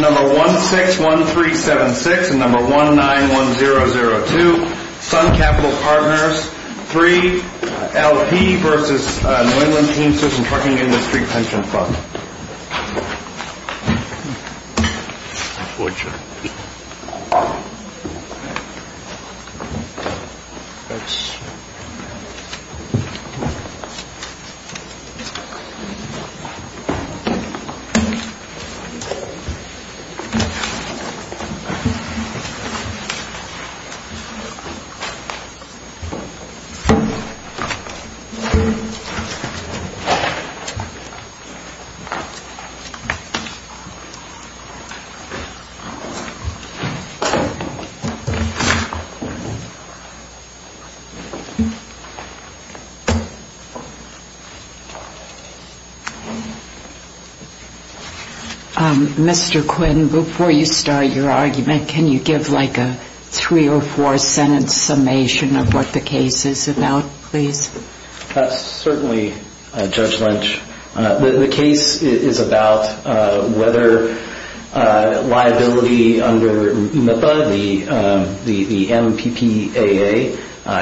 Number 161376 and number 191002, Sun Capital Partners III, LP v. New England Teamsters & Trucking Industry Pension Fund. Before you start your argument, can you give a three or four sentence summation of what the case is about, please? Certainly, Judge Lynch. The case is about whether liability under MIPA, the MPPAA,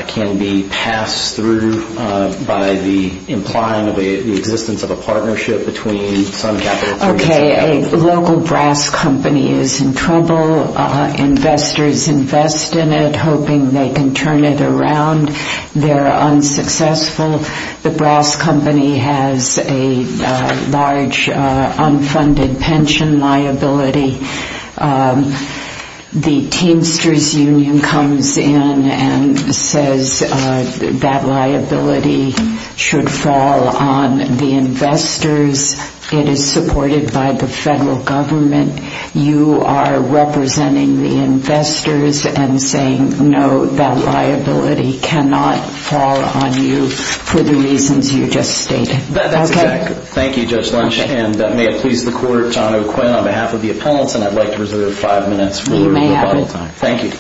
can be passed through by the implying of the existence of a partnership between Sun Capital Partners. A local brass company is in trouble. Investors invest in it, hoping they can turn it around. They're unsuccessful. The brass company has a large unfunded pension liability. The Teamsters Union comes in and says that liability should fall on the investors. It is supported by the federal government. You are representing the investors and saying, no, that liability cannot fall on you for the reasons you just stated. Thank you, Judge Lynch, and may it please the Court, John O'Quinn, on behalf of the appellants, and I'd like to reserve five minutes. You may have all the time. Thank you.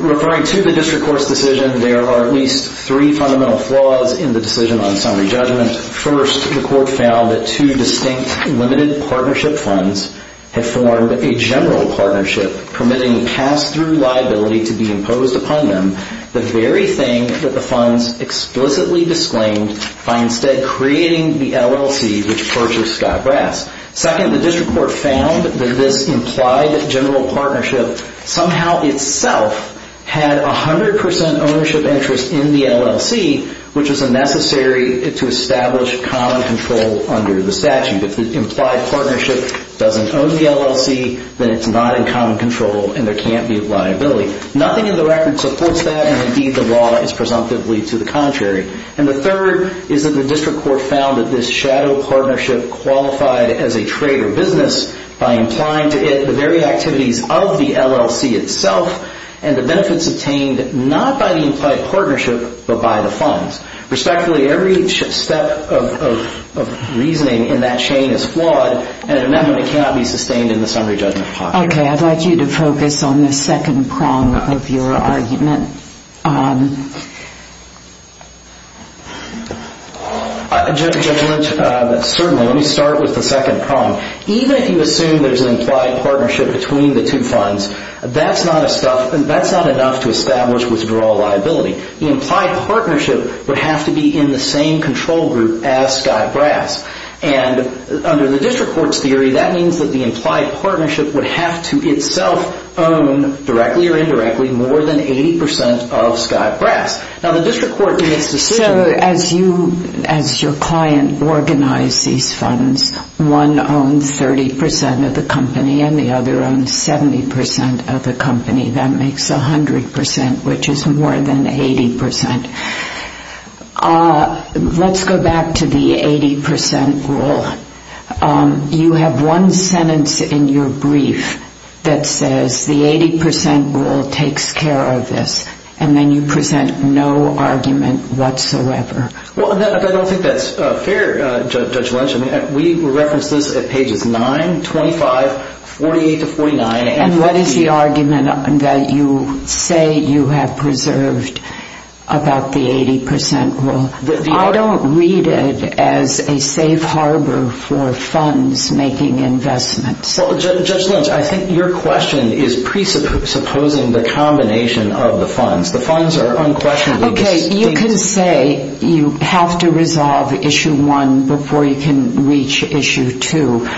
Referring to the District Court's decision, there are at least three fundamental flaws in the decision on summary judgment. First, the Court found that two distinct limited partnership funds have formed a general partnership, permitting pass-through liability to be imposed upon them. The very thing that the funds explicitly disclaimed by instead creating the LLC which purchased Scott Brass. Second, the District Court found that this implied general partnership somehow itself had 100% ownership interest in the LLC, which is necessary to establish common control under the statute. If the implied partnership doesn't own the LLC, then it's not in common control and there can't be a liability. Nothing in the record supports that, and indeed the law is presumptively to the contrary. And the third is that the District Court found that this shadow partnership qualified as a trade or business by implying to it the very activities of the LLC itself and the benefits obtained not by the implied partnership but by the funds. Respectfully, every step of reasoning in that chain is flawed, and an amendment cannot be sustained in the summary judgment pocket. Okay, I'd like you to focus on the second prong of your argument. Judge Lynch, certainly, let me start with the second prong. Even if you assume there's an implied partnership between the two funds, that's not enough to establish withdrawal liability. The implied partnership would have to be in the same control group as Scott Brass. And under the District Court's theory, that means that the implied partnership would have to itself own, directly or indirectly, more than 80% of Scott Brass. Now, the District Court in its decision... So as your client organized these funds, one owned 30% of the company and the other owned 70% of the company. That makes 100%, which is more than 80%. Let's go back to the 80% rule. You have one sentence in your brief that says the 80% rule takes care of this, and then you present no argument whatsoever. Well, I don't think that's fair, Judge Lynch. We referenced this at pages 9, 25, 48 to 49. And what is the argument that you say you have preserved about the 80% rule? I don't read it as a safe harbor for funds making investments. Well, Judge Lynch, I think your question is presupposing the combination of the funds. The funds are unquestionably distinct. Okay, you can say you have to resolve Issue 1 before you can reach Issue 2.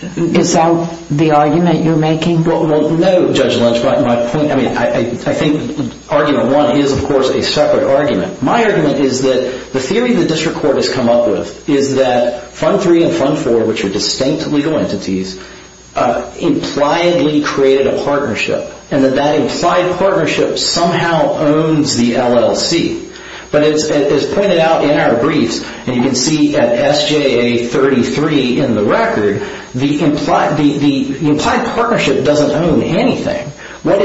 Is that the argument you're making? Well, no, Judge Lynch. I think Argument 1 is, of course, a separate argument. My argument is that the theory the District Court has come up with is that Fund 3 and Fund 4, which are distinct legal entities, impliedly created a partnership, and that that implied partnership somehow owns the LLC. But as pointed out in our briefs, and you can see at SJA 33 in the record, the implied partnership doesn't own anything. It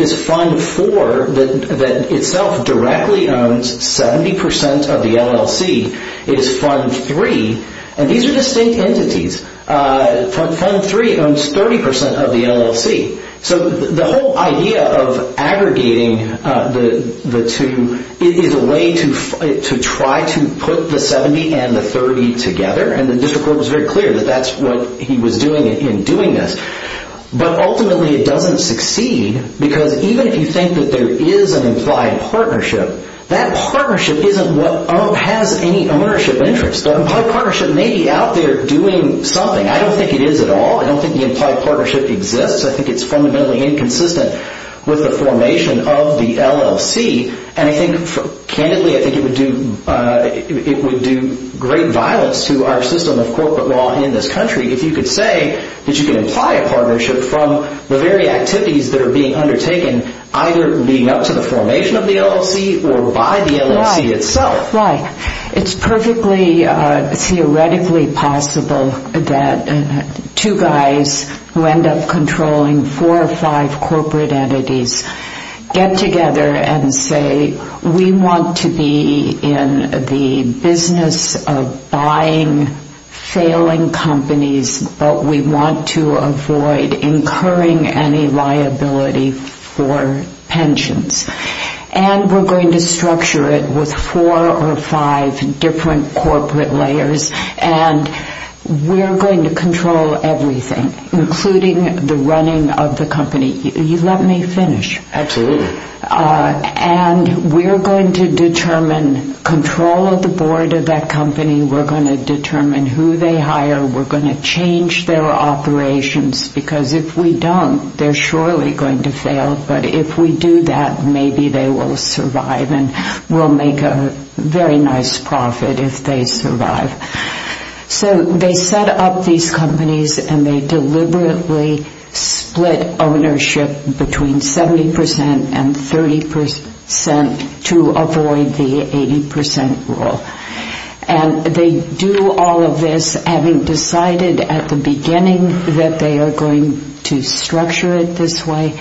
is Fund 4 that itself directly owns 70% of the LLC. It is Fund 3, and these are distinct entities. Fund 3 owns 30% of the LLC. So the whole idea of aggregating the two is a way to try to put the 70 and the 30 together, and the District Court was very clear that that's what he was doing in doing this. But ultimately it doesn't succeed because even if you think that there is an implied partnership, that partnership isn't what has any ownership interest. That implied partnership may be out there doing something. I don't think it is at all. I don't think the implied partnership exists. I think it's fundamentally inconsistent with the formation of the LLC, and I think, candidly, I think it would do great violence to our system of corporate law in this country if you could say that you can imply a partnership from the very activities that are being undertaken, either being up to the formation of the LLC or by the LLC itself. It's perfectly theoretically possible that two guys who end up controlling four or five corporate entities get together and say, we want to be in the business of buying failing companies, but we want to avoid incurring any liability for pensions. And we're going to structure it with four or five different corporate layers, and we're going to control everything, including the running of the company. Let me finish. Absolutely. And we're going to determine control of the board of that company. We're going to determine who they hire. We're going to change their operations because if we don't, they're surely going to fail. But if we do that, maybe they will survive and we'll make a very nice profit if they survive. So they set up these companies and they deliberately split ownership between 70% and 30% to avoid the 80% rule. And they do all of this having decided at the beginning that they are going to structure it this way,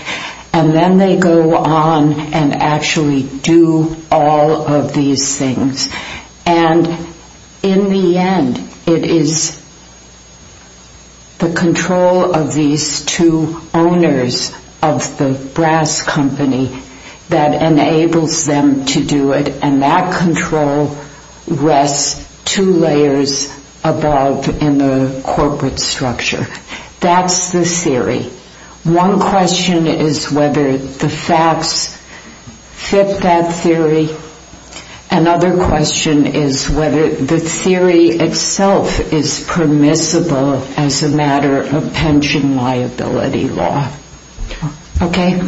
and then they go on and actually do all of these things. And in the end, it is the control of these two owners of the brass company that enables them to do it, and that control rests two layers above in the corporate structure. That's the theory. One question is whether the facts fit that theory. Another question is whether the theory itself is permissible as a matter of pension liability law. Okay?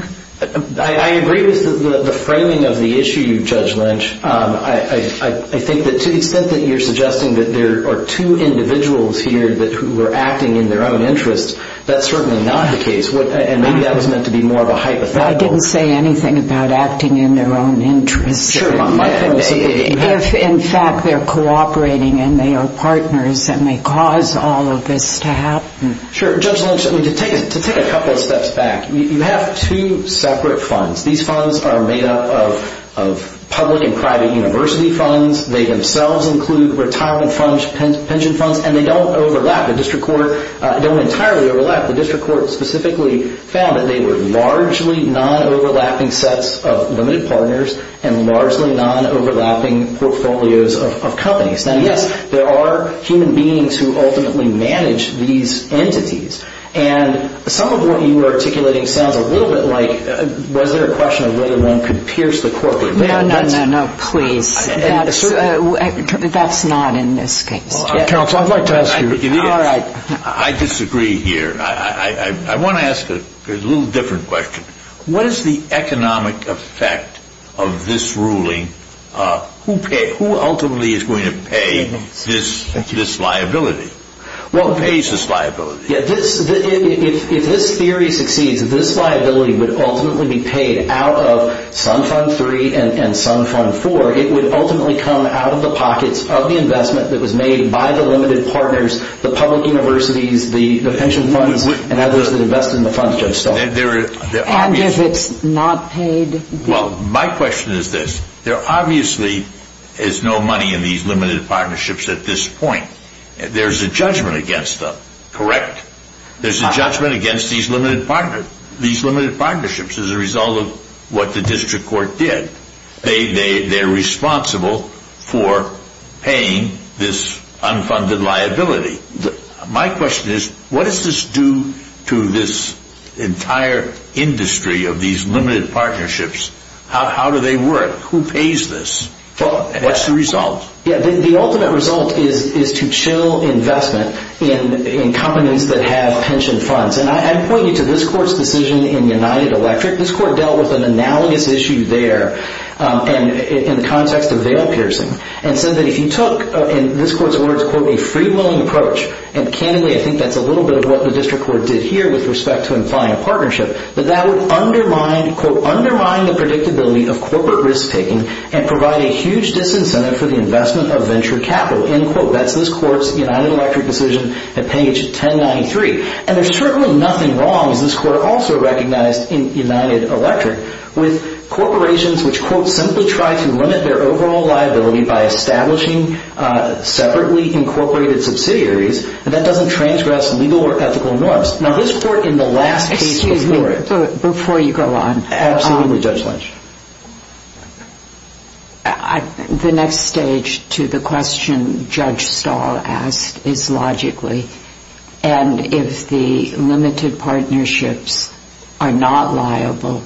I agree with the framing of the issue, Judge Lynch. I think that to the extent that you're suggesting that there are two individuals here who are acting in their own interest, that's certainly not the case, and maybe that was meant to be more of a hypothetical. I didn't say anything about acting in their own interest. Sure. If, in fact, they're cooperating and they are partners and they cause all of this to happen. Sure. Judge Lynch, to take a couple of steps back, you have two separate funds. These funds are made up of public and private university funds. They themselves include retirement funds, pension funds, and they don't overlap. They don't entirely overlap. The district court specifically found that they were largely non-overlapping sets of limited partners and largely non-overlapping portfolios of companies. Now, yes, there are human beings who ultimately manage these entities, and some of what you are articulating sounds a little bit like was there a question of whether one could pierce the corporate? No, no, no, no, please. That's not in this case. Counsel, I'd like to ask you. All right. I disagree here. I want to ask a little different question. What is the economic effect of this ruling? Who ultimately is going to pay this liability? Who pays this liability? If this theory succeeds, this liability would ultimately be paid out of some fund three and some fund four. It would ultimately come out of the pockets of the investment that was made by the limited partners, the public universities, the pension funds, and others that invested in the funds just so. And if it's not paid? Well, my question is this. There obviously is no money in these limited partnerships at this point. There's a judgment against them, correct? There's a judgment against these limited partnerships as a result of what the district court did. They're responsible for paying this unfunded liability. My question is what does this do to this entire industry of these limited partnerships? How do they work? Who pays this? What's the result? Yeah, the ultimate result is to chill investment in companies that have pension funds. And I point you to this court's decision in United Electric. This court dealt with an analogous issue there in the context of veil piercing and said that if you took, in this court's words, quote, a free-willing approach, and candidly I think that's a little bit of what the district court did here with respect to implying a partnership, that that would undermine, quote, undermine the predictability of corporate risk-taking and provide a huge disincentive for the investment of venture capital, end quote. That's this court's United Electric decision at page 1093. And there's certainly nothing wrong as this court also recognized in United Electric with corporations which, quote, simply try to limit their overall liability by establishing separately incorporated subsidiaries, and that doesn't transgress legal or ethical norms. Now, this court in the last case before it. Excuse me. Before you go on. Absolutely, Judge Lynch. The next stage to the question Judge Stahl asked is logically and if the limited partnerships are not liable,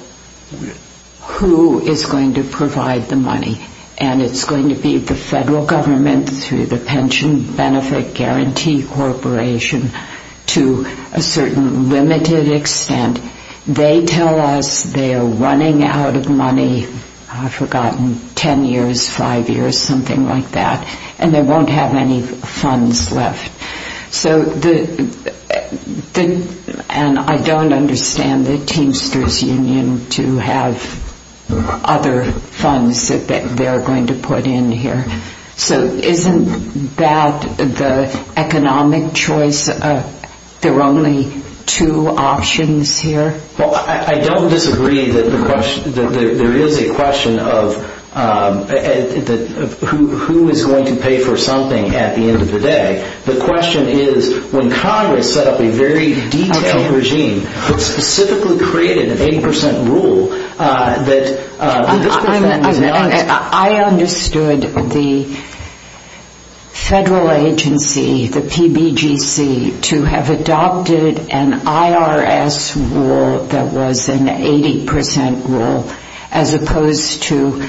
who is going to provide the money? And it's going to be the federal government through the Pension Benefit Guarantee Corporation to a certain limited extent. They tell us they are running out of money, I've forgotten, ten years, five years, something like that, and they won't have any funds left. And I don't understand the Teamsters Union to have other funds that they're going to put in here. So isn't that the economic choice, there are only two options here? Well, I don't disagree that there is a question of who is going to pay for something at the end of the day. The question is when Congress set up a very detailed regime that specifically created an 80% rule that this person was not. I understood the federal agency, the PBGC, to have adopted an IRS rule that was an 80% rule as opposed to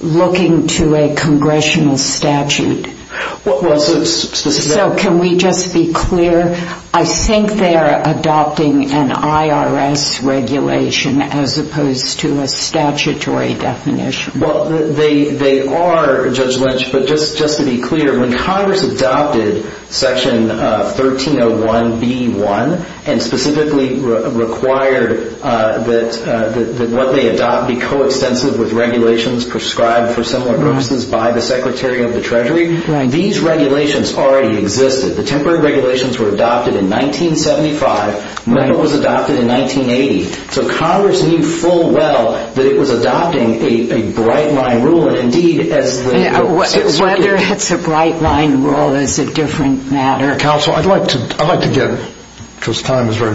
looking to a congressional statute. So can we just be clear? I think they are adopting an IRS regulation as opposed to a statutory definition. They are, Judge Lynch, but just to be clear, when Congress adopted Section 1301B1 and specifically required that what they adopt be coextensive with regulations prescribed for similar purposes by the Secretary of the Treasury, these regulations already existed. The temporary regulations were adopted in 1975. META was adopted in 1980. So Congress knew full well that it was adopting a bright-line rule and indeed as the... Whether it's a bright-line rule is a different matter. I'd like to get, because time is very limited,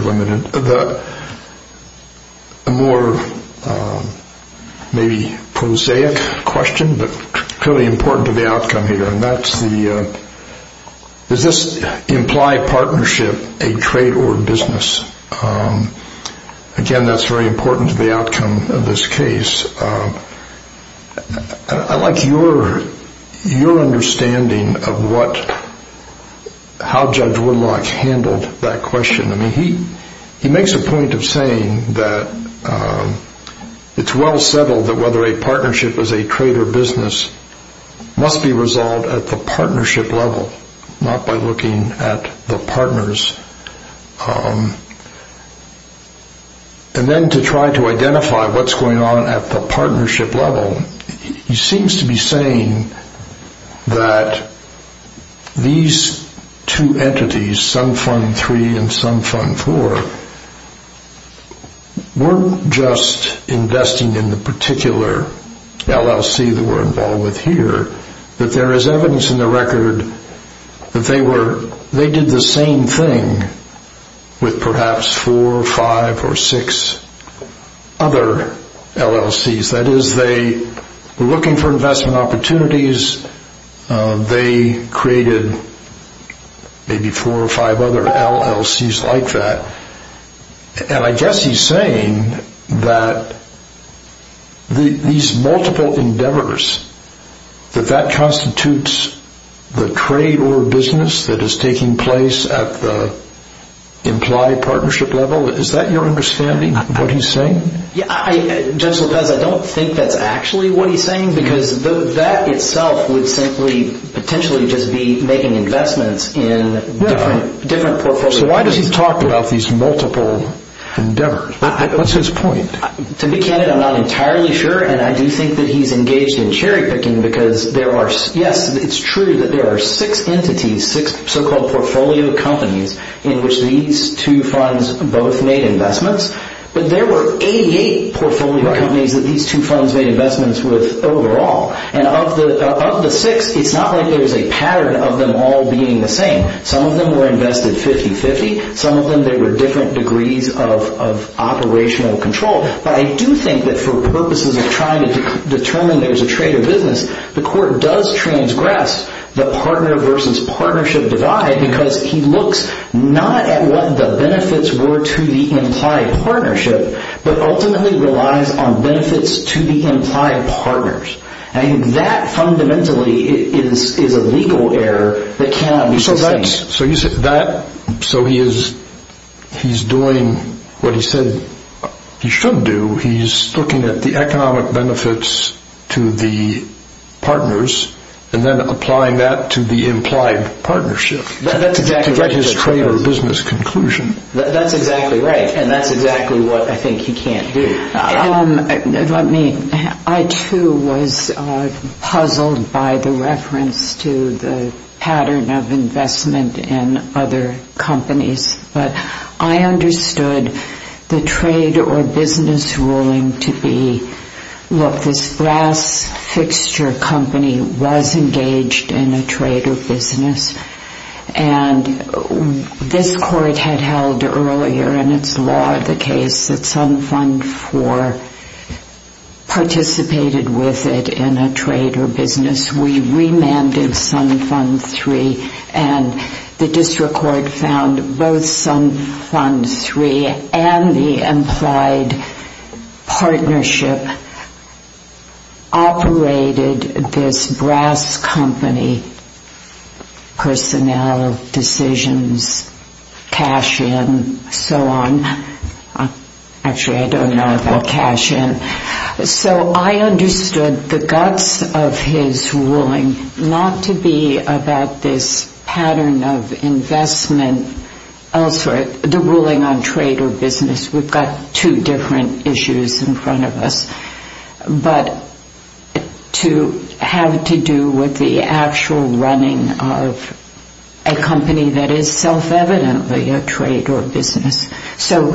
a more maybe prosaic question, but clearly important to the outcome here, and that's the... Does this imply partnership, a trade, or business? Again, that's very important to the outcome of this case. I'd like your understanding of how Judge Woodlock handled that question. He makes a point of saying that it's well settled that whether a partnership is a trade or business must be resolved at the partnership level, not by looking at the partners. And then to try to identify what's going on at the partnership level, he seems to be saying that these two entities, some Fund 3 and some Fund 4, weren't just investing in the particular LLC that we're involved with here, but there is evidence in the record that they did the same thing with perhaps four, five, or six other LLCs. That is, they were looking for investment opportunities. They created maybe four or five other LLCs like that. And I guess he's saying that these multiple endeavors, that that constitutes the trade or business that is taking place at the implied partnership level, is that your understanding of what he's saying? Judge Lopez, I don't think that's actually what he's saying, because that itself would simply potentially just be making investments in different portfolios. So why does he talk about these multiple endeavors? What's his point? To be candid, I'm not entirely sure, and I do think that he's engaged in cherry-picking, because yes, it's true that there are six entities, six so-called portfolio companies, in which these two funds both made investments, but there were 88 portfolio companies that these two funds made investments with overall. And of the six, it's not like there's a pattern of them all being the same. Some of them were invested 50-50. Some of them, they were different degrees of operational control. But I do think that for purposes of trying to determine there's a trade or business, the court does transgress the partner versus partnership divide, because he looks not at what the benefits were to the implied partnership, but ultimately relies on benefits to the implied partners. And that fundamentally is a legal error that cannot be sustained. So he's doing what he said he should do. He's looking at the economic benefits to the partners and then applying that to the implied partnership to get his trade or business conclusion. That's exactly right, and that's exactly what I think he can't do. Let me. I, too, was puzzled by the reference to the pattern of investment in other companies. But I understood the trade or business ruling to be, look, this brass fixture company was engaged in a trade or business, and this court had held earlier in its law the case that Sun Fund 4 participated with it in a trade or business. We remanded Sun Fund 3, and the district court found both Sun Fund 3 and the implied partnership operated this brass company, personnel decisions, cash in, so on. Actually, I don't know about cash in. So I understood the guts of his ruling not to be about this pattern of investment elsewhere, the ruling on trade or business. We've got two different issues in front of us. But to have to do with the actual running of a company that is self-evidently a trade or business. So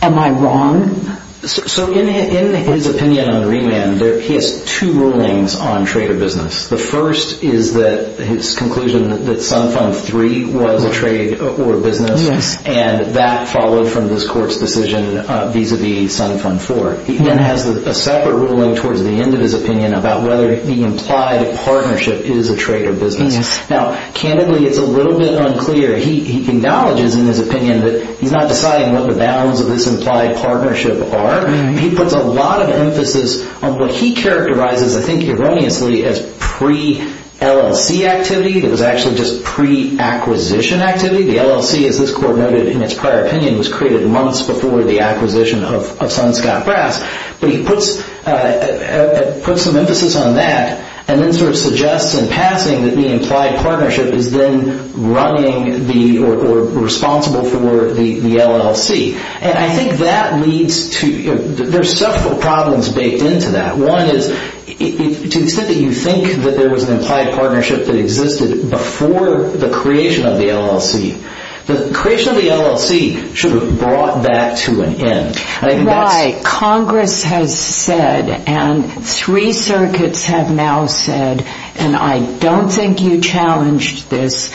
am I wrong? So in his opinion on remand, he has two rulings on trade or business. The first is that his conclusion that Sun Fund 3 was a trade or business, and that followed from this court's decision vis-a-vis Sun Fund 4. He then has a separate ruling towards the end of his opinion about whether the implied partnership is a trade or business. Now, candidly, it's a little bit unclear. He acknowledges in his opinion that he's not deciding what the bounds of this implied partnership are. He puts a lot of emphasis on what he characterizes, I think erroneously, as pre-LLC activity. It was actually just pre-acquisition activity. The LLC, as this court noted in its prior opinion, was created months before the acquisition of Sun Scott Brass. But he puts some emphasis on that and then sort of suggests in passing that the implied partnership is then running or responsible for the LLC. And I think that leads to, there's several problems baked into that. One is, to the extent that you think that there was an implied partnership that existed before the creation of the LLC, the creation of the LLC should have brought that to an end. Right. Congress has said, and three circuits have now said, and I don't think you challenged this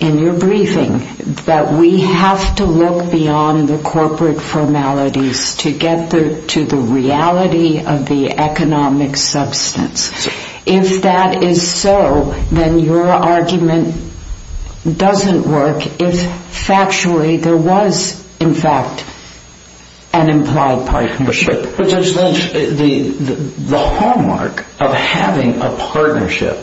in your briefing, that we have to look beyond the corporate formalities to get to the reality of the economic substance. If that is so, then your argument doesn't work if factually there was, in fact, an implied partnership. Judge Lynch, the hallmark of having a partnership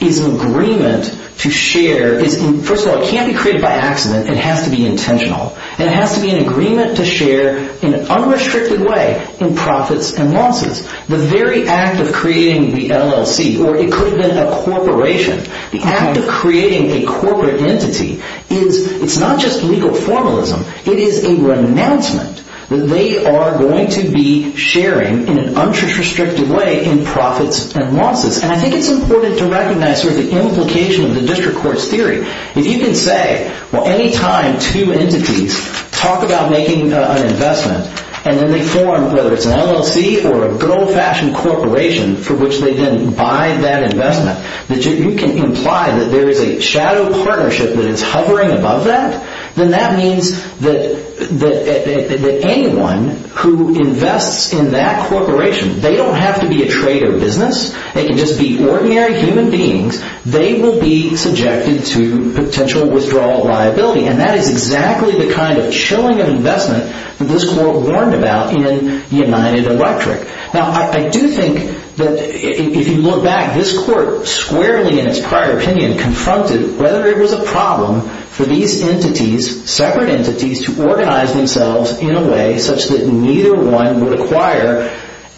is an agreement to share. First of all, it can't be created by accident. It has to be intentional. And it has to be an agreement to share in an unrestricted way in profits and losses. The very act of creating the LLC, or it could have been a corporation, the act of creating a corporate entity is, it's not just legal formalism, it is a renouncement that they are going to be sharing in an unrestricted way in profits and losses. And I think it's important to recognize the implication of the district court's theory. If you can say, well, any time two entities talk about making an investment and then they form, whether it's an LLC or a gold-fashioned corporation for which they then buy that investment, that you can imply that there is a shadow partnership that is hovering above that, then that means that anyone who invests in that corporation, they don't have to be a trade or business, they can just be ordinary human beings, they will be subjected to potential withdrawal liability. And that is exactly the kind of chilling investment that this court warned about in United Electric. Now, I do think that if you look back, this court squarely in its prior opinion confronted whether it was a problem for these entities, separate entities, to organize themselves in a way such that neither one would acquire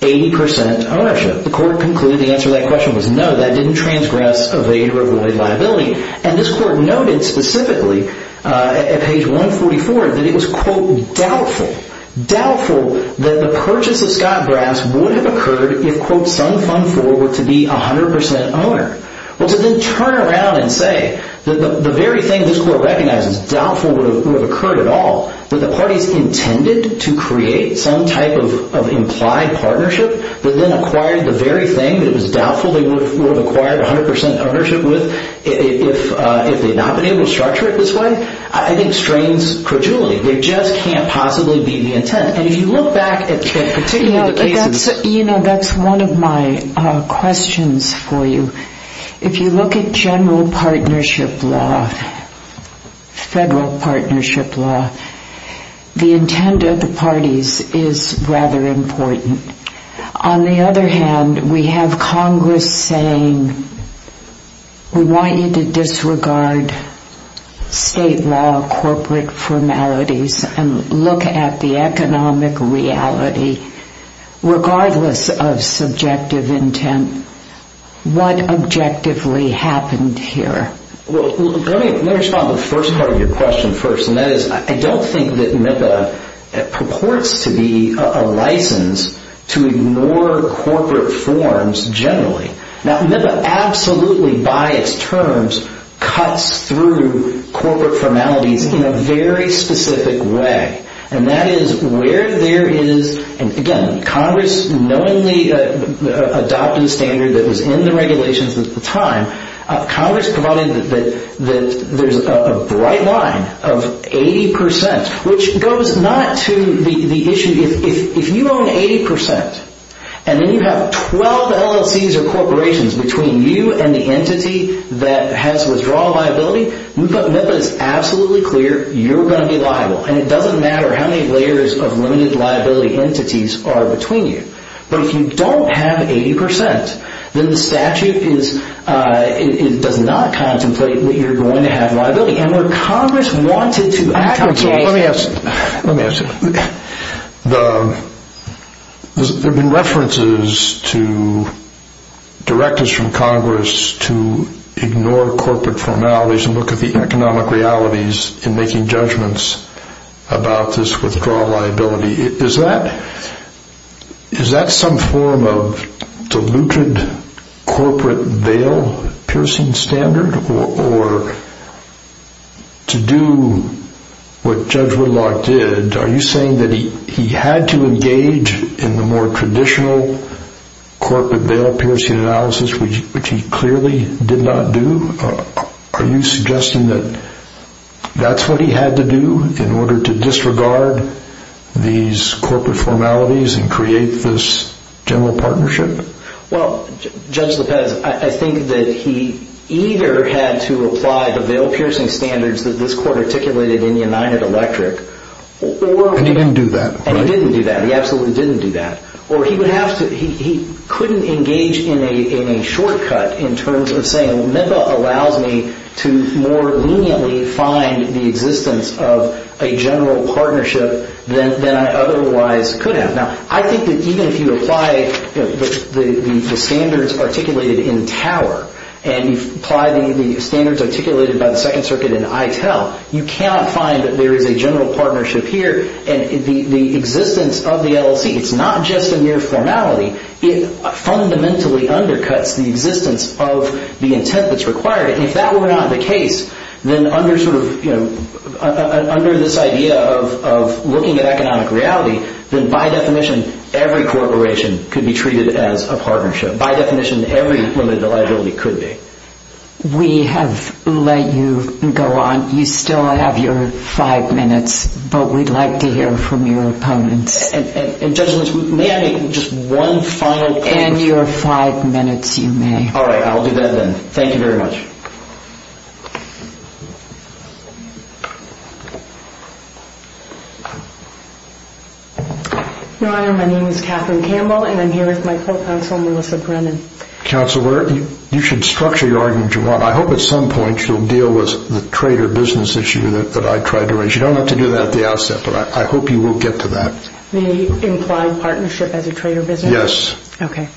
80% ownership. The court concluded the answer to that question was no, that didn't transgress evade or avoid liability. And this court noted specifically at page 144 that it was, quote, doubtful, doubtful that the purchase of Scott Brass would have occurred if, quote, some fund forward to be 100% owner. Well, to then turn around and say that the very thing this court recognizes, doubtful would have occurred at all, that the parties intended to create some type of implied partnership that then acquired the very thing that it was doubtful they would have acquired 100% ownership with if they had not been able to structure it this way, I think strains credulity. There just can't possibly be the intent. And if you look back at particular cases... You know, that's one of my questions for you. If you look at general partnership law, federal partnership law, the intent of the parties is rather important. On the other hand, we have Congress saying, we want you to disregard state law, corporate formalities, and look at the economic reality regardless of subjective intent. What objectively happened here? Well, let me respond to the first part of your question first. And that is, I don't think that MIPA purports to be a license to ignore corporate forms generally. Now, MIPA absolutely, by its terms, cuts through corporate formalities in a very specific way. And that is where there is... And again, Congress knowingly adopted a standard that was in the regulations at the time, Congress provided that there's a bright line of 80%, which goes not to the issue... If you own 80%, and then you have 12 LLCs or corporations between you and the entity that has withdrawal liability, MIPA is absolutely clear you're going to be liable. And it doesn't matter how many layers of limited liability entities are between you. But if you don't have 80%, then the statute does not contemplate that you're going to have liability. And where Congress wanted to... Let me ask you. There have been references to directors from Congress to ignore corporate formalities and look at the economic realities in making judgments about this withdrawal liability. Is that some form of diluted corporate bail piercing standard? Or to do what Judge Whitlock did, are you saying that he had to engage in the more traditional corporate bail piercing analysis, which he clearly did not do? Are you suggesting that that's what he had to do in order to disregard these corporate formalities and create this general partnership? Judge Lopez, I think that he either had to apply the bail piercing standards that this court articulated in United Electric And he didn't do that. And he didn't do that. He absolutely didn't do that. Or he couldn't engage in a shortcut in terms of saying MIPA allows me to more leniently find the existence of a general partnership than I otherwise could have. Now, I think that even if you apply the standards articulated in Tower and you apply the standards articulated by the Second Circuit in ITEL you cannot find that there is a general partnership here. And the existence of the LLC, it's not just a mere formality, it fundamentally undercuts the existence of the intent that's required. And if that were not the case, then under this idea of looking at economic reality, then by definition, every corporation could be treated as a partnership. By definition, every limited liability could be. We have let you go on. You still have your five minutes, but we'd like to hear from your opponents. And, Judge Lopez, may I make just one final question? And your five minutes, you may. Alright, I'll do that then. Thank you very much. Your Honor, my name is Catherine Campbell, and I'm here with my co-counsel, Melissa Brennan. Counselor, you should structure your argument as you want. I hope at some point you'll deal with the trader business issue that I tried to raise. You don't have to do that at the outset, but I hope you will get to that. The implied partnership as a trader business? Yes. Okay.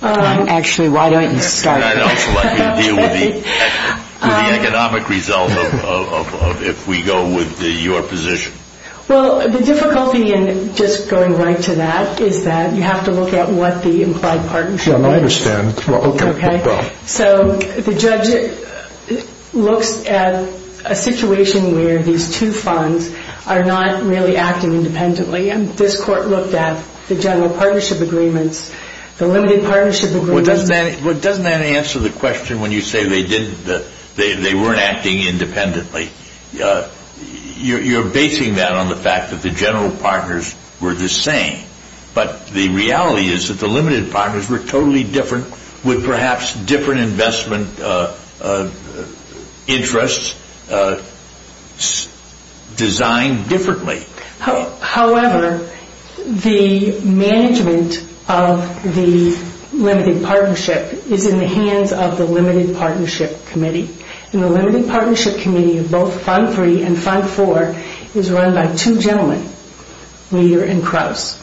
Actually, why don't you start? And also let me deal with the economic result of if we go with your position. Well, the difficulty in just going right to that is that you have to look at what the implied partnership is. I understand. So the judge looks at a situation where these two funds are not really acting independently. And this Court looked at the general partnership agreements, the limited partnership agreements. Well, doesn't that answer the question when you say they weren't acting independently? You're basing that on the fact that the general partners were the same, but the reality is that the limited partners were totally different with perhaps different investment interests designed differently. However, the management of the limited partnership is in the hands of the limited partnership committee. And the limited partnership committee of both Fund 3 and Fund 4 is run by two gentlemen, Meader and Krauss.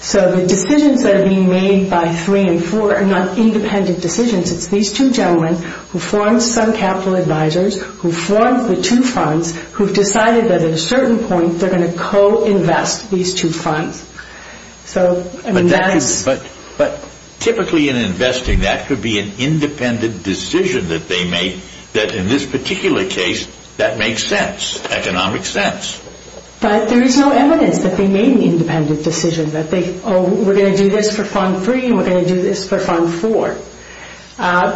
So the decisions that are being made by 3 and 4 are not independent decisions. It's these two gentlemen who formed some capital advisors, who formed the two funds, who've decided that at a certain point they're going to co-invest these two funds. But typically in investing, that could be an independent decision that they made that in this particular case, that makes sense, economic sense. But there is no evidence that they made an independent decision, that they were going to do this for Fund 3 and were going to do this for Fund 4.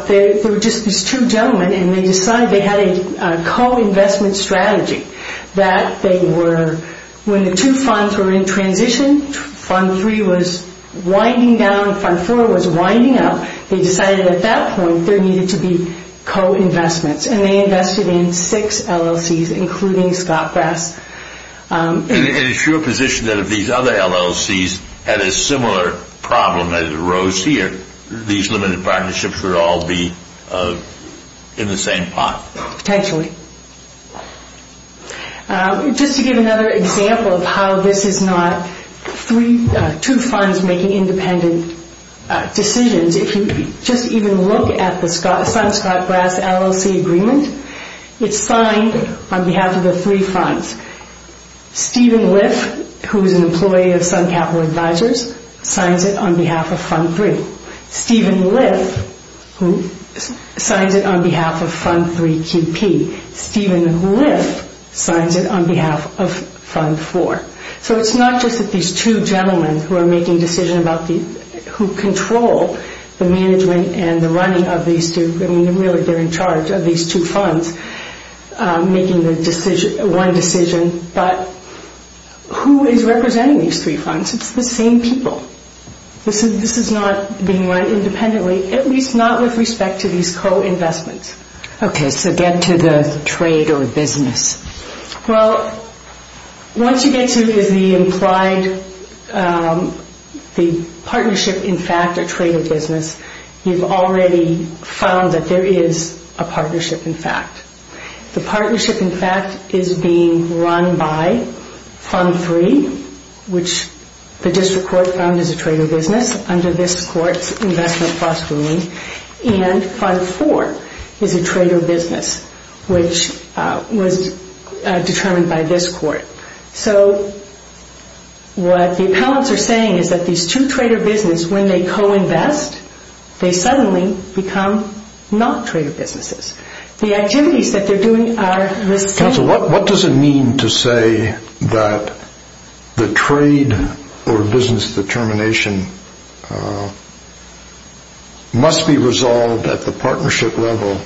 They were just these two gentlemen, and they decided they had a co-investment strategy, that they were when the two funds were in transition, Fund 3 was winding down, Fund 4 was winding up, they decided at that point there needed to be co-investments. And they invested in six LLCs, including Scott Grass. And is your position that if these other LLCs had a similar problem that arose here, these limited partnerships would all be in the same pot? Potentially. Just to give another example of how this is not two funds making independent decisions, if you just even look at the Scott Grass LLC agreement, it's signed on behalf of the three funds. Stephen Liff, who is an employee of Sun Capital Advisors, signs it on behalf of Fund 3. Stephen Liff, who signs it on behalf of Fund 3QP, Stephen Liff signs it on behalf of Fund 4. So it's not just these two gentlemen who are making decisions, who control the management and the running of these two, really they're in charge of these two funds making one decision, but who is representing these three funds? It's the same people. This is not being run independently, at least not with respect to these co-investments. Okay, so get to the trade or business. Well, once you get to the implied partnership in fact or trade or business, you've already found that there is a partnership in fact. The partnership in fact is being run by Fund 3, which the district court found is a trade or business under this court's investment plus ruling, and Fund 4 is a trade or business, which was determined by this court. So what the appellants are saying is that these two trade or business, when they co-invest, they suddenly become not trade or businesses. The activities that they're doing are the same. Counsel, what does it mean to say that the trade or business determination must be resolved at the partnership level,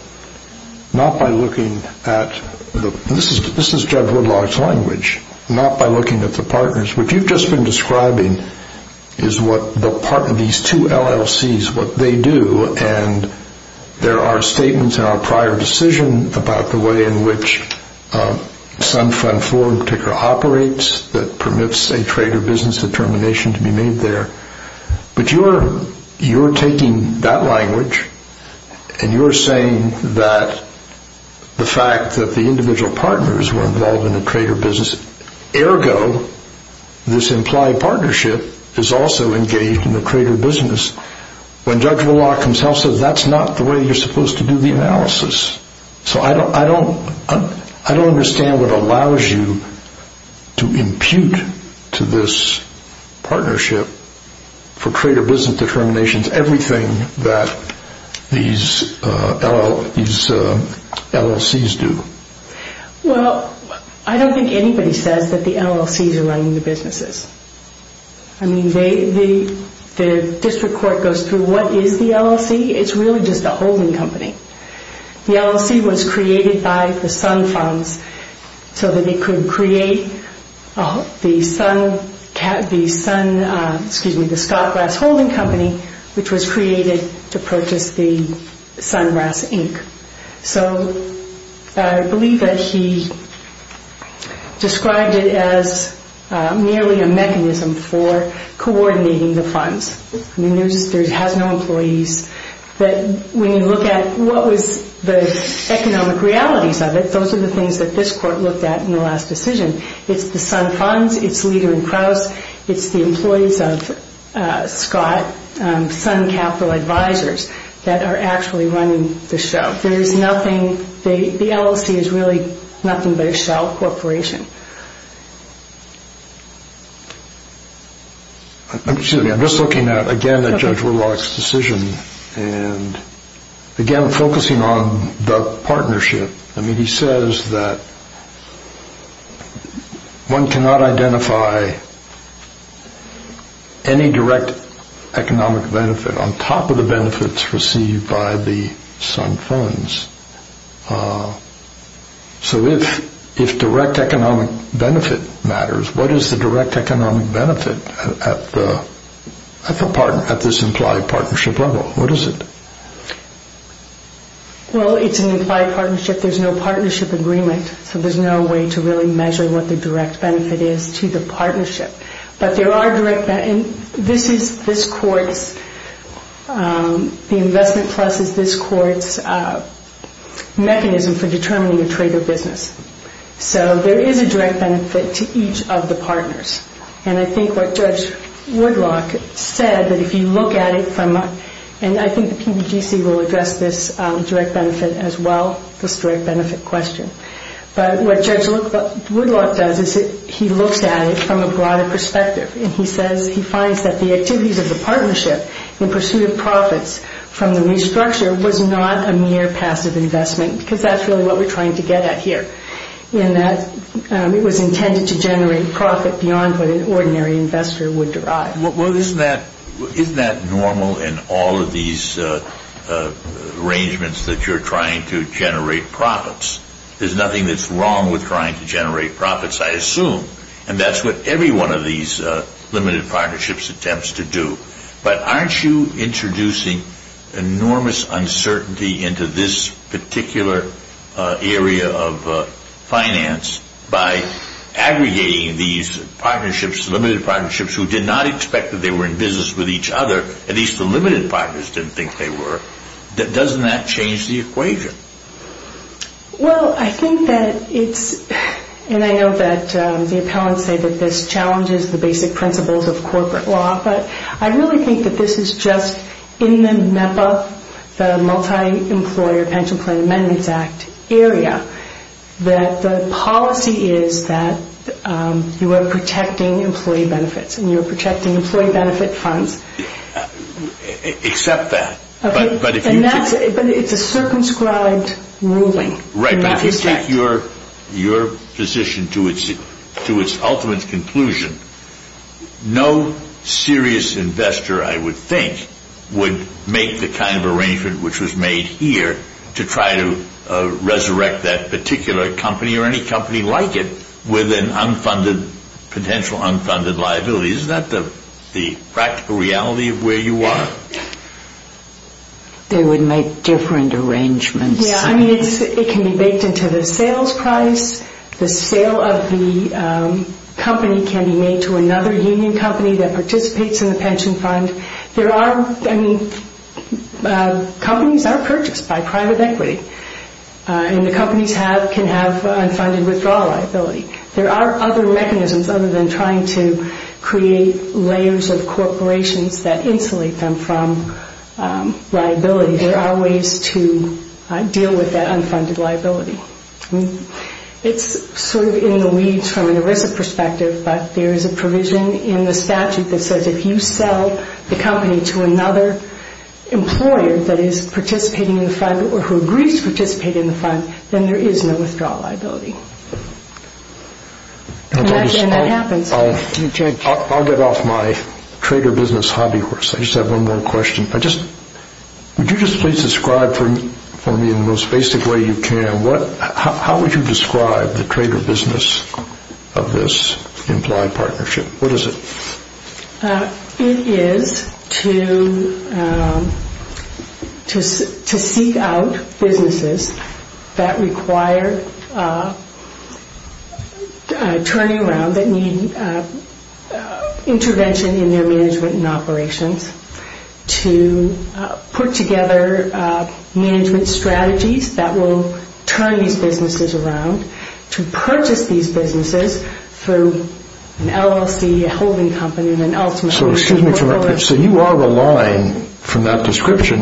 not by looking at this is Jeff Woodlock's language, not by looking at the partners. What you've just been describing is what the part of these two LLCs, what they do, and there are statements in our prior decision about the way in which some Fund 4 in particular operates that permits a trade or business determination to be made there. But you're taking that language and you're saying that the fact that the individual partners were involved in a trade or business ergo this implied partnership is also engaged in a trade or business. When Judge Woodlock himself says that's not the way you're supposed to do the analysis. So I don't understand what allows you to make a partnership for trade or business determinations, everything that these LLCs do. Well, I don't think anybody says that the LLCs are running the businesses. The district court goes through what is the LLC. It's really just a holding company. The LLC was created by the Sun Funds so that they could create the Scott Brass Holding Company which was created to purchase the Sun Brass Inc. So I believe that he described it as nearly a mechanism for coordinating the funds. It has no employees. When you look at what was the economic realities of it, those are the things that this court looked at in the last decision. It's the Sun Funds, it's Leder & Kraus, it's the employees of Scott Sun Capital Advisors that are actually running the show. There is nothing the LLC is really nothing but a shell corporation. I'm just looking at again at Judge Woodlock's decision and again focusing on the partnership. He says that one cannot identify any direct economic benefit on top of the benefits received by the Sun Funds. So if direct economic benefit matters, what is the direct economic benefit at this implied partnership level? What is it? Well, it's an implied partnership. There's no partnership agreement so there's no way to really measure what the direct benefit is to the partnership. But there are direct benefits. The investment plus is this court's mechanism for determining a trade or business. So there is a direct benefit to each of the partners. And I think what Judge Woodlock said that if you look at it from a broader perspective, and I think the PBGC will address this direct benefit as well, this direct benefit question. But what Judge Woodlock does is he looks at it from a broader perspective and he says he finds that the activities of the partnership in pursuit of profits from the new structure was not a mere passive investment because that's really what we're trying to get at here. It was intended to generate profit beyond what an ordinary investor would derive. Well, isn't that normal in all of these arrangements that you're trying to generate profits? There's nothing that's wrong with trying to generate profits, I assume. And that's what every one of these limited partnerships attempts to do. But aren't you introducing enormous uncertainty into this particular area of finance by aggregating these partnerships, limited partnerships who did not expect that they were in business with each other, at least the limited partners didn't think they were. Doesn't that change the equation? Well, I think that it's and I know that the appellants say that this challenges the basic principles of corporate law, but I really think that this is just in the MEPA, the Multi-Employer Pension Plan Amendments Act area, that the policy is that you are protecting employee benefits and you are protecting employee benefit funds. Accept that. But it's a circumscribed ruling. Right, but if you take your position to its ultimate conclusion, no serious investor, I would think, would make the kind of arrangement which was made here to try to resurrect that particular company or any potential unfunded liability. Is that the practical reality of where you are? They would make different arrangements. Yeah, I mean, it can be baked into the sales price, the sale of the company can be made to another union company that participates in the pension fund. There are, I mean, companies are purchased by private equity and the companies can have their own mechanisms other than trying to create layers of corporations that insulate them from liability. There are ways to deal with that unfunded liability. It's sort of in the weeds from an ERISA perspective, but there is a provision in the statute that says if you sell the company to another employer that is participating in the fund or who agrees to participate in the fund, then there is no withdrawal liability. And that happens. I'll get off my trader business hobby horse. I just have one more question. Would you just please describe for me in the most basic way you can, how would you describe the trader business of this implied partnership? What is it? It is to seek out businesses that require turning around, that need intervention in their management and operations, to put together management strategies that will turn these businesses around, to purchase these businesses through an LLC, a holding company. So you are relying from that description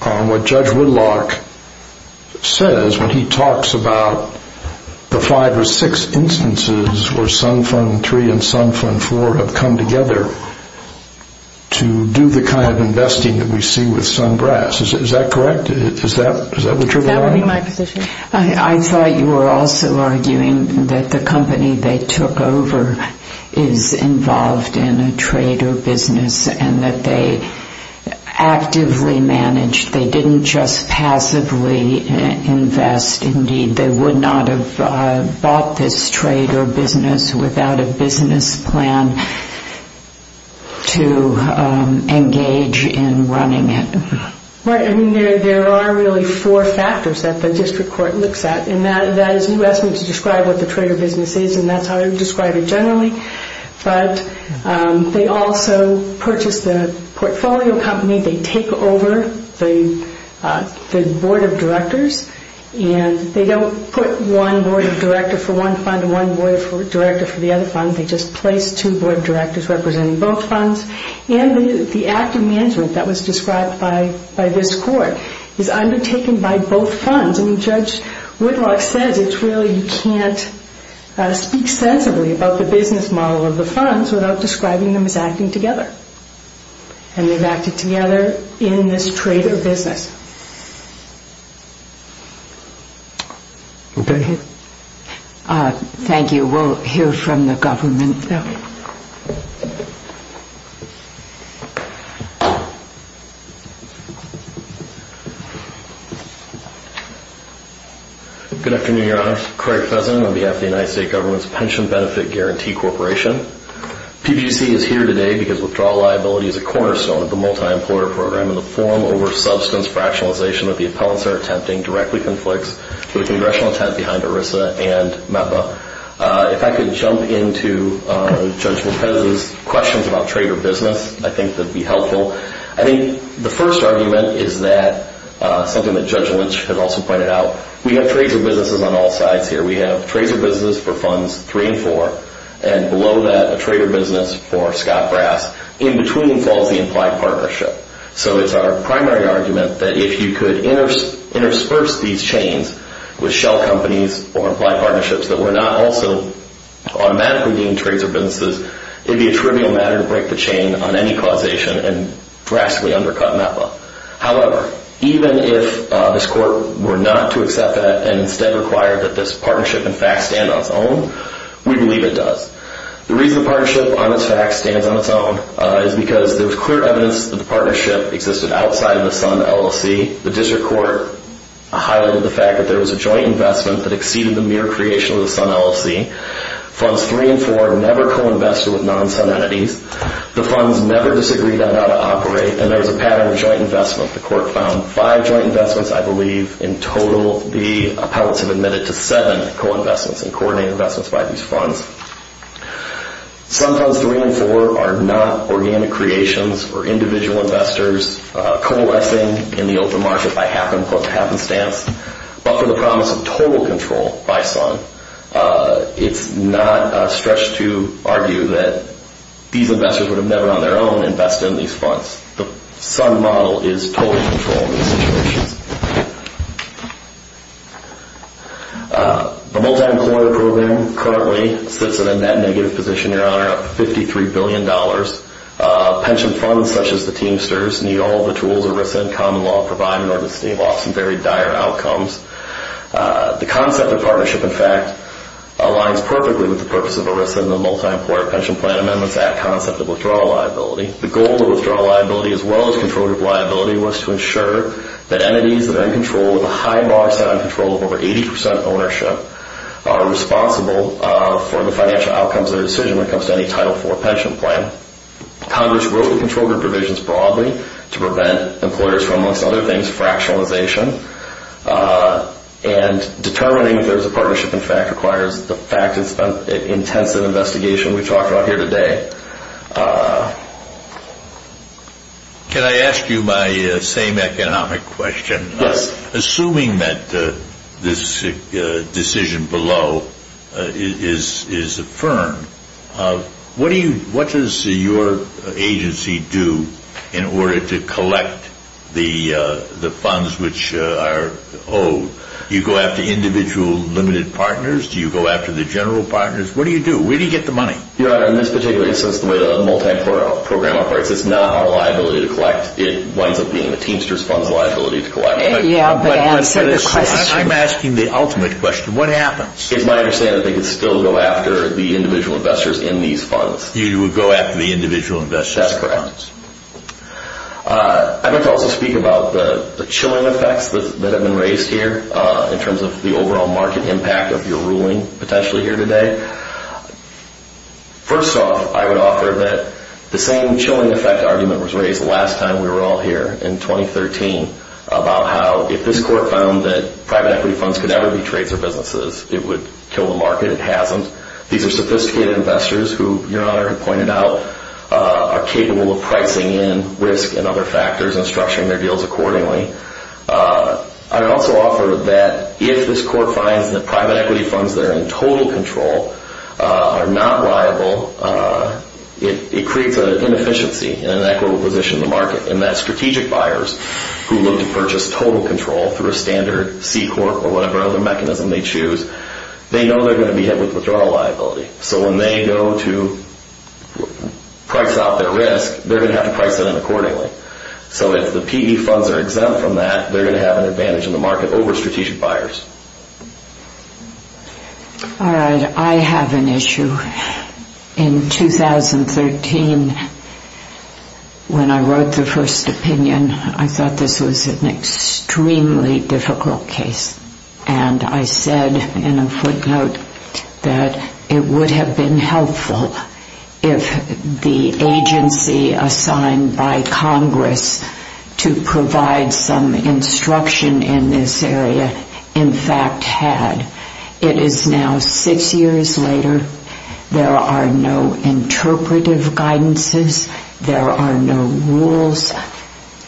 on what Chuck says when he talks about the five or six instances where Sun Fund 3 and Sun Fund 4 have come together to do the kind of investing that we see with Sungrass. Is that correct? Is that what you are going at? I thought you were also arguing that the company they took over is involved in a trader business and that they actively managed, they didn't just passively invest. Indeed, they would not have bought this trader business without a business plan to engage in running it. Right. I mean, there are really four factors that the district court looks at. And that is, you asked me to describe what the trader business is, and that's how I would describe it generally. But they also purchase the portfolio company, they take over the board of directors and they don't put one board of directors for one fund and one board of directors for the other fund. They just place two board of directors representing both funds. And the active management that was described by this court is undertaken by both funds. And Judge Whitlock says it's really, you can't speak sensibly about the business model of the funds without describing them as acting together. And they've acted together in this trader business. Okay. Thank you. We'll hear from the government now. Good afternoon, Your Honor. Craig Pleasant on behalf of the United States Government's Pension Benefit Guarantee Corporation. PBC is here today because withdrawal liability is a cornerstone of the multi-employer program and the form over substance fractionalization that the appellants are attempting directly conflicts with the congressional attempt behind ERISA and MEPA. If I could jump into Judge Lopez's questions about trader business, I think that would be helpful. I think the first argument is that, something that Judge Lynch had also pointed out, we have trader businesses on all sides here. We have trader businesses for funds three and four. And below that, a trader business for Scott Brass. In between falls the implied partnership. So it's our primary argument that if you could intersperse these chains with shell companies or implied partnerships that were not also automatically deemed trader businesses, it would be a trivial matter to break the chain on any causation and drastically undercut MEPA. However, even if this court were not to accept that and instead require that this court do, we believe it does. The reason the partnership on its facts stands on its own is because there was clear evidence that the partnership existed outside of the SUN LLC. The district court highlighted the fact that there was a joint investment that exceeded the mere creation of the SUN LLC. Funds three and four never co-invested with non-SUN entities. The funds never disagreed on how to operate. And there was a pattern of joint investment. The court found five joint investments, I believe, in total. The appellants have admitted to seven co-investments and coordinated investments by these funds. SUN funds three and four are not organic creations or individual investors coalescing in the open market by happenstance. But for the promise of total control by SUN, it's not a stretch to argue that these investors would have never on their own invested in these funds. The SUN model is total control in these situations. The multi-employer program currently sits in a net negative position, Your Honor, of $53 billion. Pension funds such as the Teamsters need all the tools ERISA and common law provide in order to stave off some very dire outcomes. The concept of partnership, in fact, aligns perfectly with the purpose of ERISA and the Multi-Employer Pension Plan Amendments Act concept of withdrawal liability. The goal of withdrawal liability as well as employees that are in control with a high bar set on control of over 80 percent ownership are responsible for the financial outcomes of their decision when it comes to any Title IV pension plan. Congress will control their provisions broadly to prevent employers from, amongst other things, fractionalization. And determining if there's a partnership, in fact, requires the fact that it's an intensive investigation we've talked about here today. Can I ask you my same economic question? Yes. Assuming that this decision below is affirmed, what does your agency do in order to collect the funds which are owed? Do you go after individual limited partners? Do you go after the general partners? What do you do? Where do you get the money? Your Honor, in this particular instance, the way the multi-employer program operates, it's not our teamster's funds liability to collect. I'm asking the ultimate question. What happens? It's my understanding they can still go after the individual investors in these funds. You would go after the individual investors? That's correct. I'd like to also speak about the chilling effects that have been raised here in terms of the overall market impact of your ruling potentially here today. First off, I would offer that the same chilling effect argument was raised the last time we were all here in 2013 about how if this Court found that private equity funds could ever be trades or businesses, it would kill the market. It hasn't. These are sophisticated investors who, Your Honor pointed out, are capable of pricing in risk and other factors and structuring their deals accordingly. I would also offer that if this Court finds that private equity funds that are in total control are not liable, it will position the market in that strategic buyers who look to purchase total control through a standard C-Corp or whatever other mechanism they choose, they know they're going to be hit with withdrawal liability. So when they go to price out their risk, they're going to have to price that in accordingly. So if the PV funds are exempt from that, they're going to have an advantage in the market over strategic buyers. I have an issue. In 2013, when I wrote the first opinion, I thought this was an extremely difficult case. And I said in a footnote that it would have been helpful if the agency assigned by Congress to provide some instruction in this area in fact had. It is now six years later. There are no interpretive guidances. There are no rules.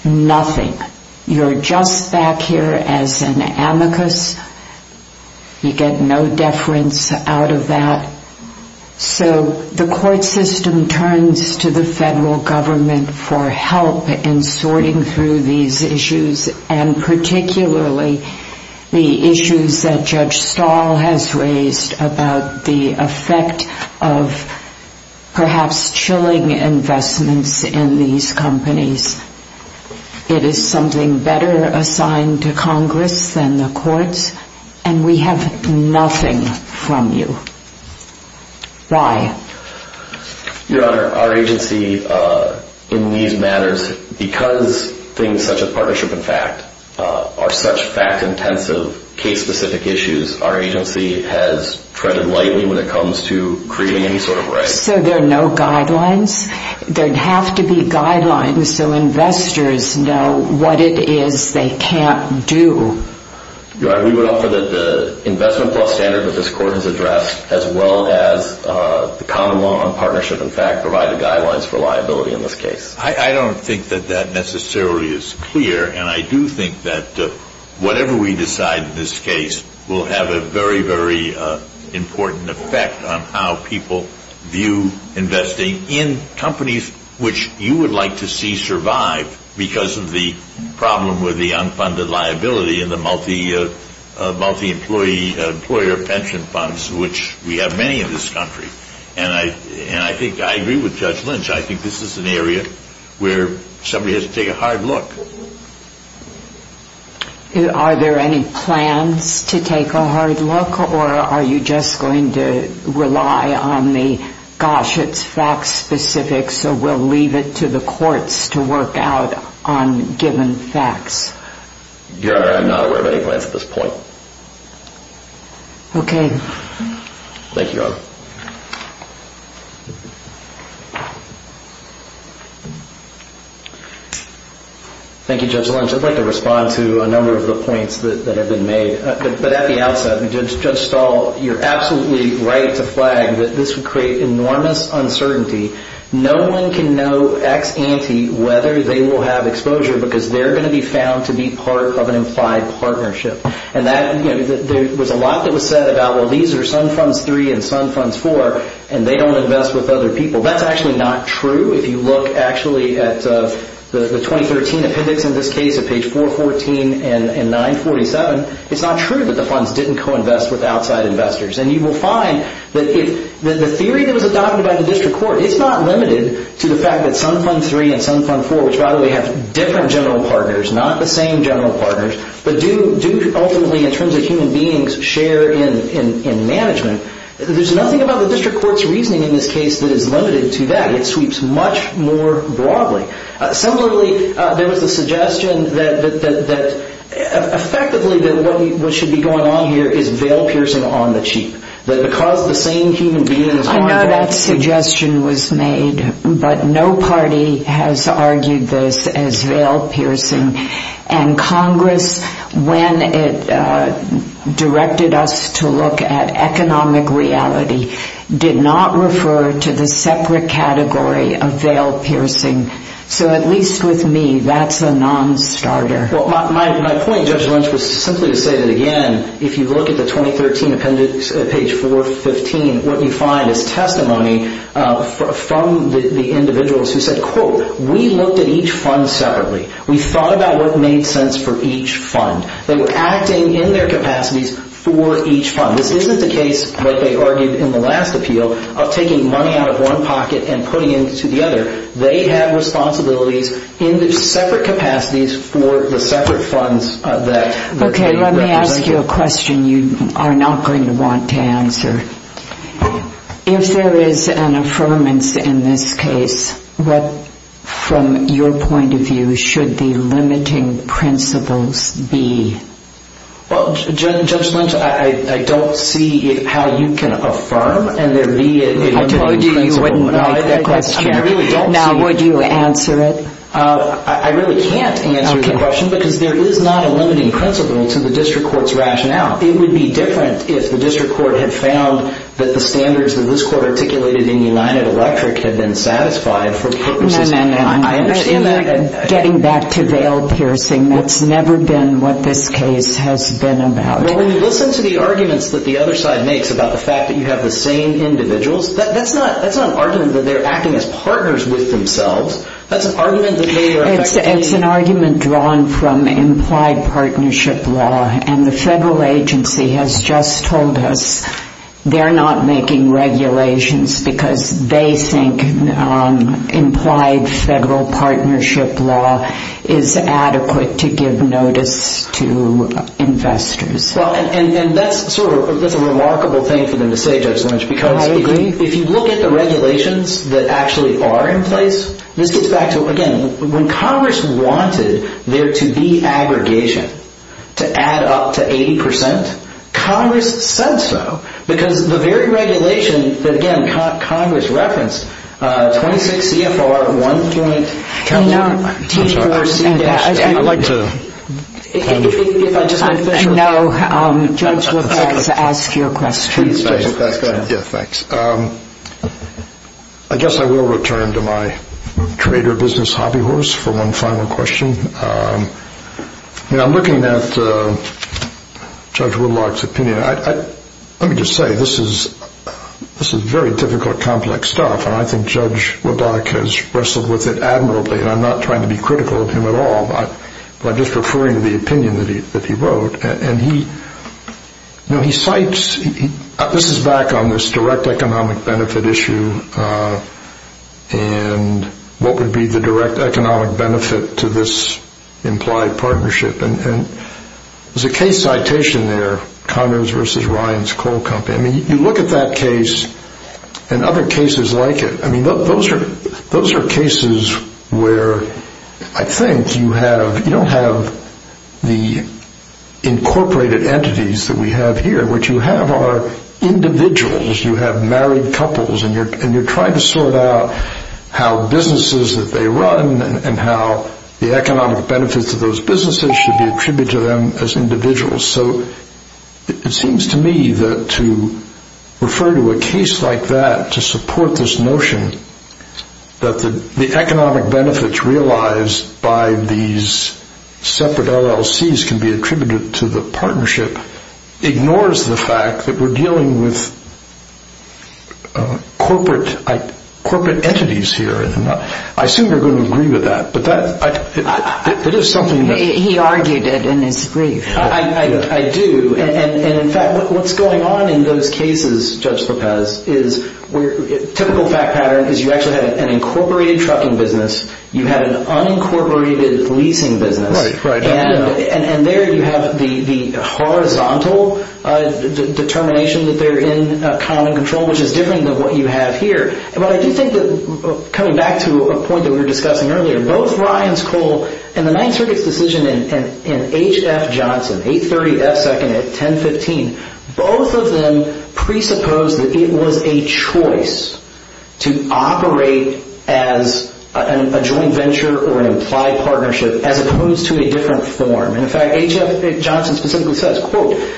Nothing. You're just back here as an amicus. You get no deference out of that. So the court system turns to the federal government for help in sorting through these issues and particularly the issues that Judge Stahl has raised about the effect of perhaps chilling investments in these companies. It is something better assigned to Congress than the courts, and we have nothing from you. Why? Your Honor, our agency in these matters, because things such as partnership and fact are such fact-intensive case-specific issues, our agency has treaded lightly when it comes to creating any sort of rights. So there are no guidelines? There'd have to be guidelines so investors know what it is they can't do. Your Honor, we would offer that the investment plus standard that this court has addressed as well as the common law on partnership and fact provide the guidelines for liability in this case. I don't think that that necessarily is clear, and I do think that whatever we decide in this case will have a very, very important effect on how people view investing in companies which you would like to see survive because of the problem with the unfunded liability and the multi-employer pension funds, which we have many in this country. And I agree with Judge Lynch. I think this is an area where somebody has to take a hard look. Are there any plans to are you just going to rely on the, gosh, it's fact-specific, so we'll leave it to the courts to work out on given facts? Your Honor, I'm not aware of any plans at this point. Okay. Thank you, Your Honor. Thank you, Judge Lynch. I'd like to respond to a number of the points that have been made. But at the outset, Judge Stahl, you're absolutely right to flag that this would create enormous uncertainty. No one can know ex ante whether they will have exposure because they're going to be found to be part of an implied partnership. And that, you know, there was a lot that was said about, well, these are Sun Funds 3 and Sun Funds 4, and they don't invest with other people. That's actually not true. If you look actually at the 2013 appendix in this case at page 414 and 947, it's not true that the funds didn't co-invest with outside investors. And you will find that the theory that was adopted by the District Court is not limited to the fact that Sun Fund 3 and Sun Fund 4, which by the way have different general partners, not the same general partners, but do ultimately in terms of human beings share in management. There's nothing about the District Court's reasoning in this case that is limited to that. It sweeps much more broadly. Similarly, there was a suggestion that effectively what should be going on here is veil piercing on the cheap. I know that suggestion was made, but no party has argued this as veil piercing. And Congress, when it directed us to look at economic reality, did not refer to the separate category of veil piercing. So at least with me, that's a non-starter. My point, Judge Lynch, was simply to say that again, if you look at the 2013 appendix at page 415, what you find is testimony from the individuals who said, quote, we looked at each fund separately. We thought about what made sense for each fund. They were acting in their capacities for each fund. This isn't the case like they argued in the last appeal of taking money out of one pocket and putting it into the other. They have responsibilities in their separate capacities for the separate funds. Let me ask you a question you are not going to want to answer. If there is an affirmance in this case, from your point of view, what should the limiting principles be? Judge Lynch, I don't see how you can affirm and there be a limiting principle. Now, would you answer it? I really can't answer the question because there is not a limiting principle to the district court's rationale. It would be different if the district court had found that the standards that this court articulated in United Electric had been satisfied for purposes of No, no, no. Getting back to veil piercing, that's never been what this case has been about. When you listen to the arguments that the other side makes about the fact that you have the same individuals, that's not an argument that they are acting as partners with themselves. It's an argument drawn from implied partnership law and the federal agency has just told us they are not making regulations because they think implied federal partnership law is adequate to give notice to investors. That's a remarkable thing for them to say, Judge Lynch. If you look at the regulations that actually are in place, when Congress wanted there to be aggregation to add up to 80%, Congress said so. Because the very regulation that Congress referenced, 26 CFR, one point, I'd like to I know Judge LeBlanc has asked your question. I guess I will return to my trader business hobby horse for one final question. I'm looking at Judge LeBlanc's opinion. Let me just say, this is very difficult, complex stuff and I think Judge LeBlanc has wrestled with it admirably and I'm not trying to be critical of him at all by just referring to the opinion that he wrote. He cites, this is back on this direct economic benefit issue and what would be the direct economic benefit to this implied partnership and there's a case citation there, Conners v. Ryan's Coal Company. You look at that case and other cases like it. Those are cases where I think you don't have the incorporated entities that we have here. What you have are individuals. You have married couples and you're trying to sort out how businesses that they run and how the economic benefits of those businesses should be attributed to them as individuals. It seems to me that to refer to a case like that to support this notion that the economic benefits realized by these separate LLCs can be attributed to the partnership ignores the fact that we're dealing with corporate entities here. I assume you're going to agree with that. He argued it in his brief. I do and in fact what's going on in those cases Judge Lopez is typical fact pattern is you actually have an incorporated trucking business. You have an unincorporated leasing business. There you have the horizontal determination that they're in common control which is different than what you have here. I do think that coming back to a point that we were discussing earlier both Ryan's Coal and the Ninth Circuit's decision in H.F. Second at 10-15 both of them presuppose that it was a choice to operate as a joint venture or an implied partnership as opposed to a different form. In fact H.F. Johnson specifically says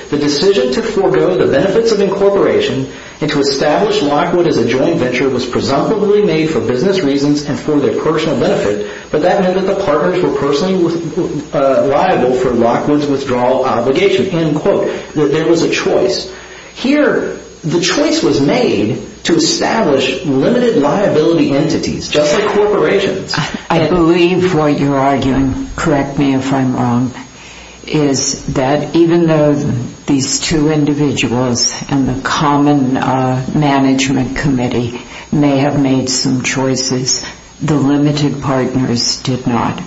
the decision to forego the benefits of incorporation and to establish Lockwood as a joint venture was presumably made for business reasons and for their personal benefit but that meant that the partners were personally liable for Lockwood's withdrawal obligation. There was a choice. Here the choice was made to establish limited liability entities just like corporations. I believe what you're arguing, correct me if I'm wrong, is that even though these two individuals and the common management committee may have made some choices, the limited partners did not.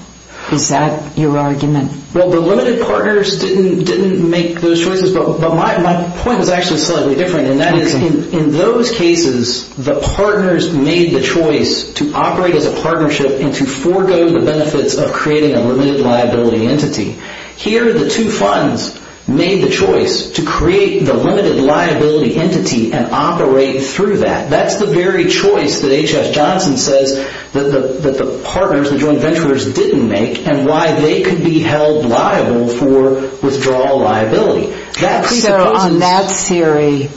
Is that your argument? Well the limited partners didn't make those choices but my point is actually slightly different. In those cases the partners made the choice to operate as a partnership and to forego the benefits of creating a limited liability entity. Here the two funds made the choice to create the limited liability entity and operate through that. That's the very choice that H.F. Johnson says that the partners, the joint venturers, didn't make and why they could be held liable for withdrawal liability. So on that theory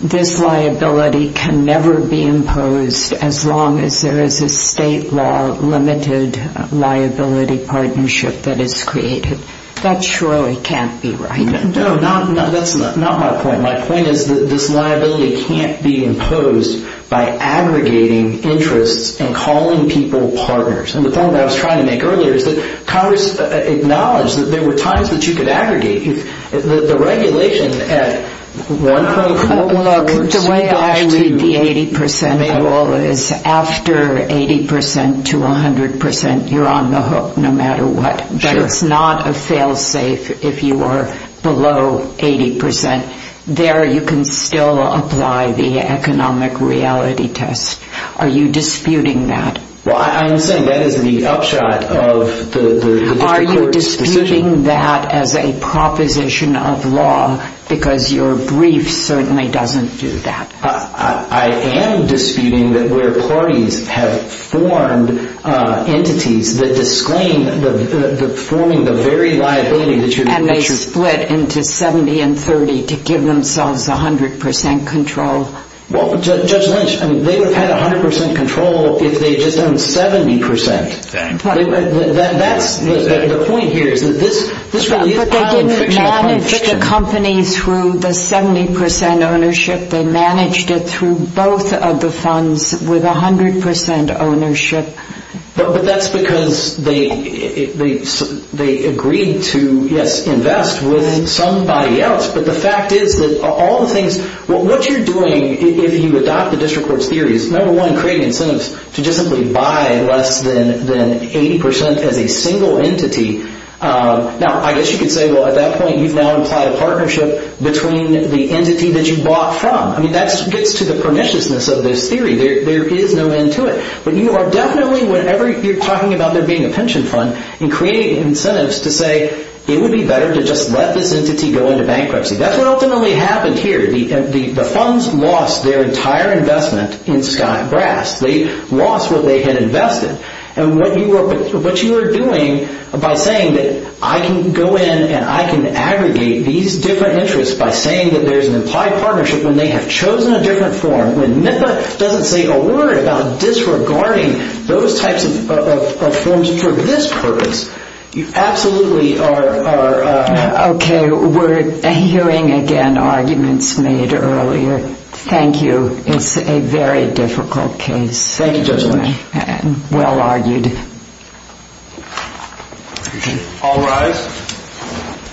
this liability can never be imposed as long as there is a state law limited liability partnership that is created. That surely can't be right. No, that's not my point. My point is that this liability can't be imposed by aggregating interests and calling people partners. And the point I was trying to make earlier is that Congress acknowledged that there were times that you could aggregate the regulation at 1.4% The way I read the 80% rule is after 80% to 100% you're on the hook no matter what. It's not a fail safe if you are below 80%. There you can still apply the economic reality test. Are you disputing that? I'm saying that is the upshot of the court's position. Are you disputing that as a proposition of law because your brief certainly doesn't do that. I am disputing that where parties have formed entities that disclaim forming the very liability And they split into 70 and 30 to give themselves 100% control. Judge Lynch, they would have had 100% control if they had just done 70%. The point here is that this really is a conflict. They didn't manage the company through the 70% ownership. They managed it through both of the funds with 100% ownership. But that's because they agreed to invest with somebody else. But the fact is that all the things, what you're doing if you adopt the district court's theory is number one creating incentives to just simply buy less than 80% as a single entity. Now I guess you could say well at that point you've now implied a partnership between the entity that you bought from. That gets to the perniciousness of this theory. There is no end to it. But you are definitely whenever you're talking about there being a pension fund and creating incentives to say it would be better to just let this entity go into bankruptcy. That's what ultimately happened here. The funds lost their entire investment in Sky Brass. They lost what they had invested. And what you were doing by saying that I can go in and I can aggregate these different interests by saying that there's an implied partnership when they have chosen a different form when MIPA doesn't say a word about disregarding those types of forms for this purpose. You absolutely are. Okay. We're hearing again arguments made earlier. Thank you. It's a very difficult case. Thank you very much. Well argued. All rise.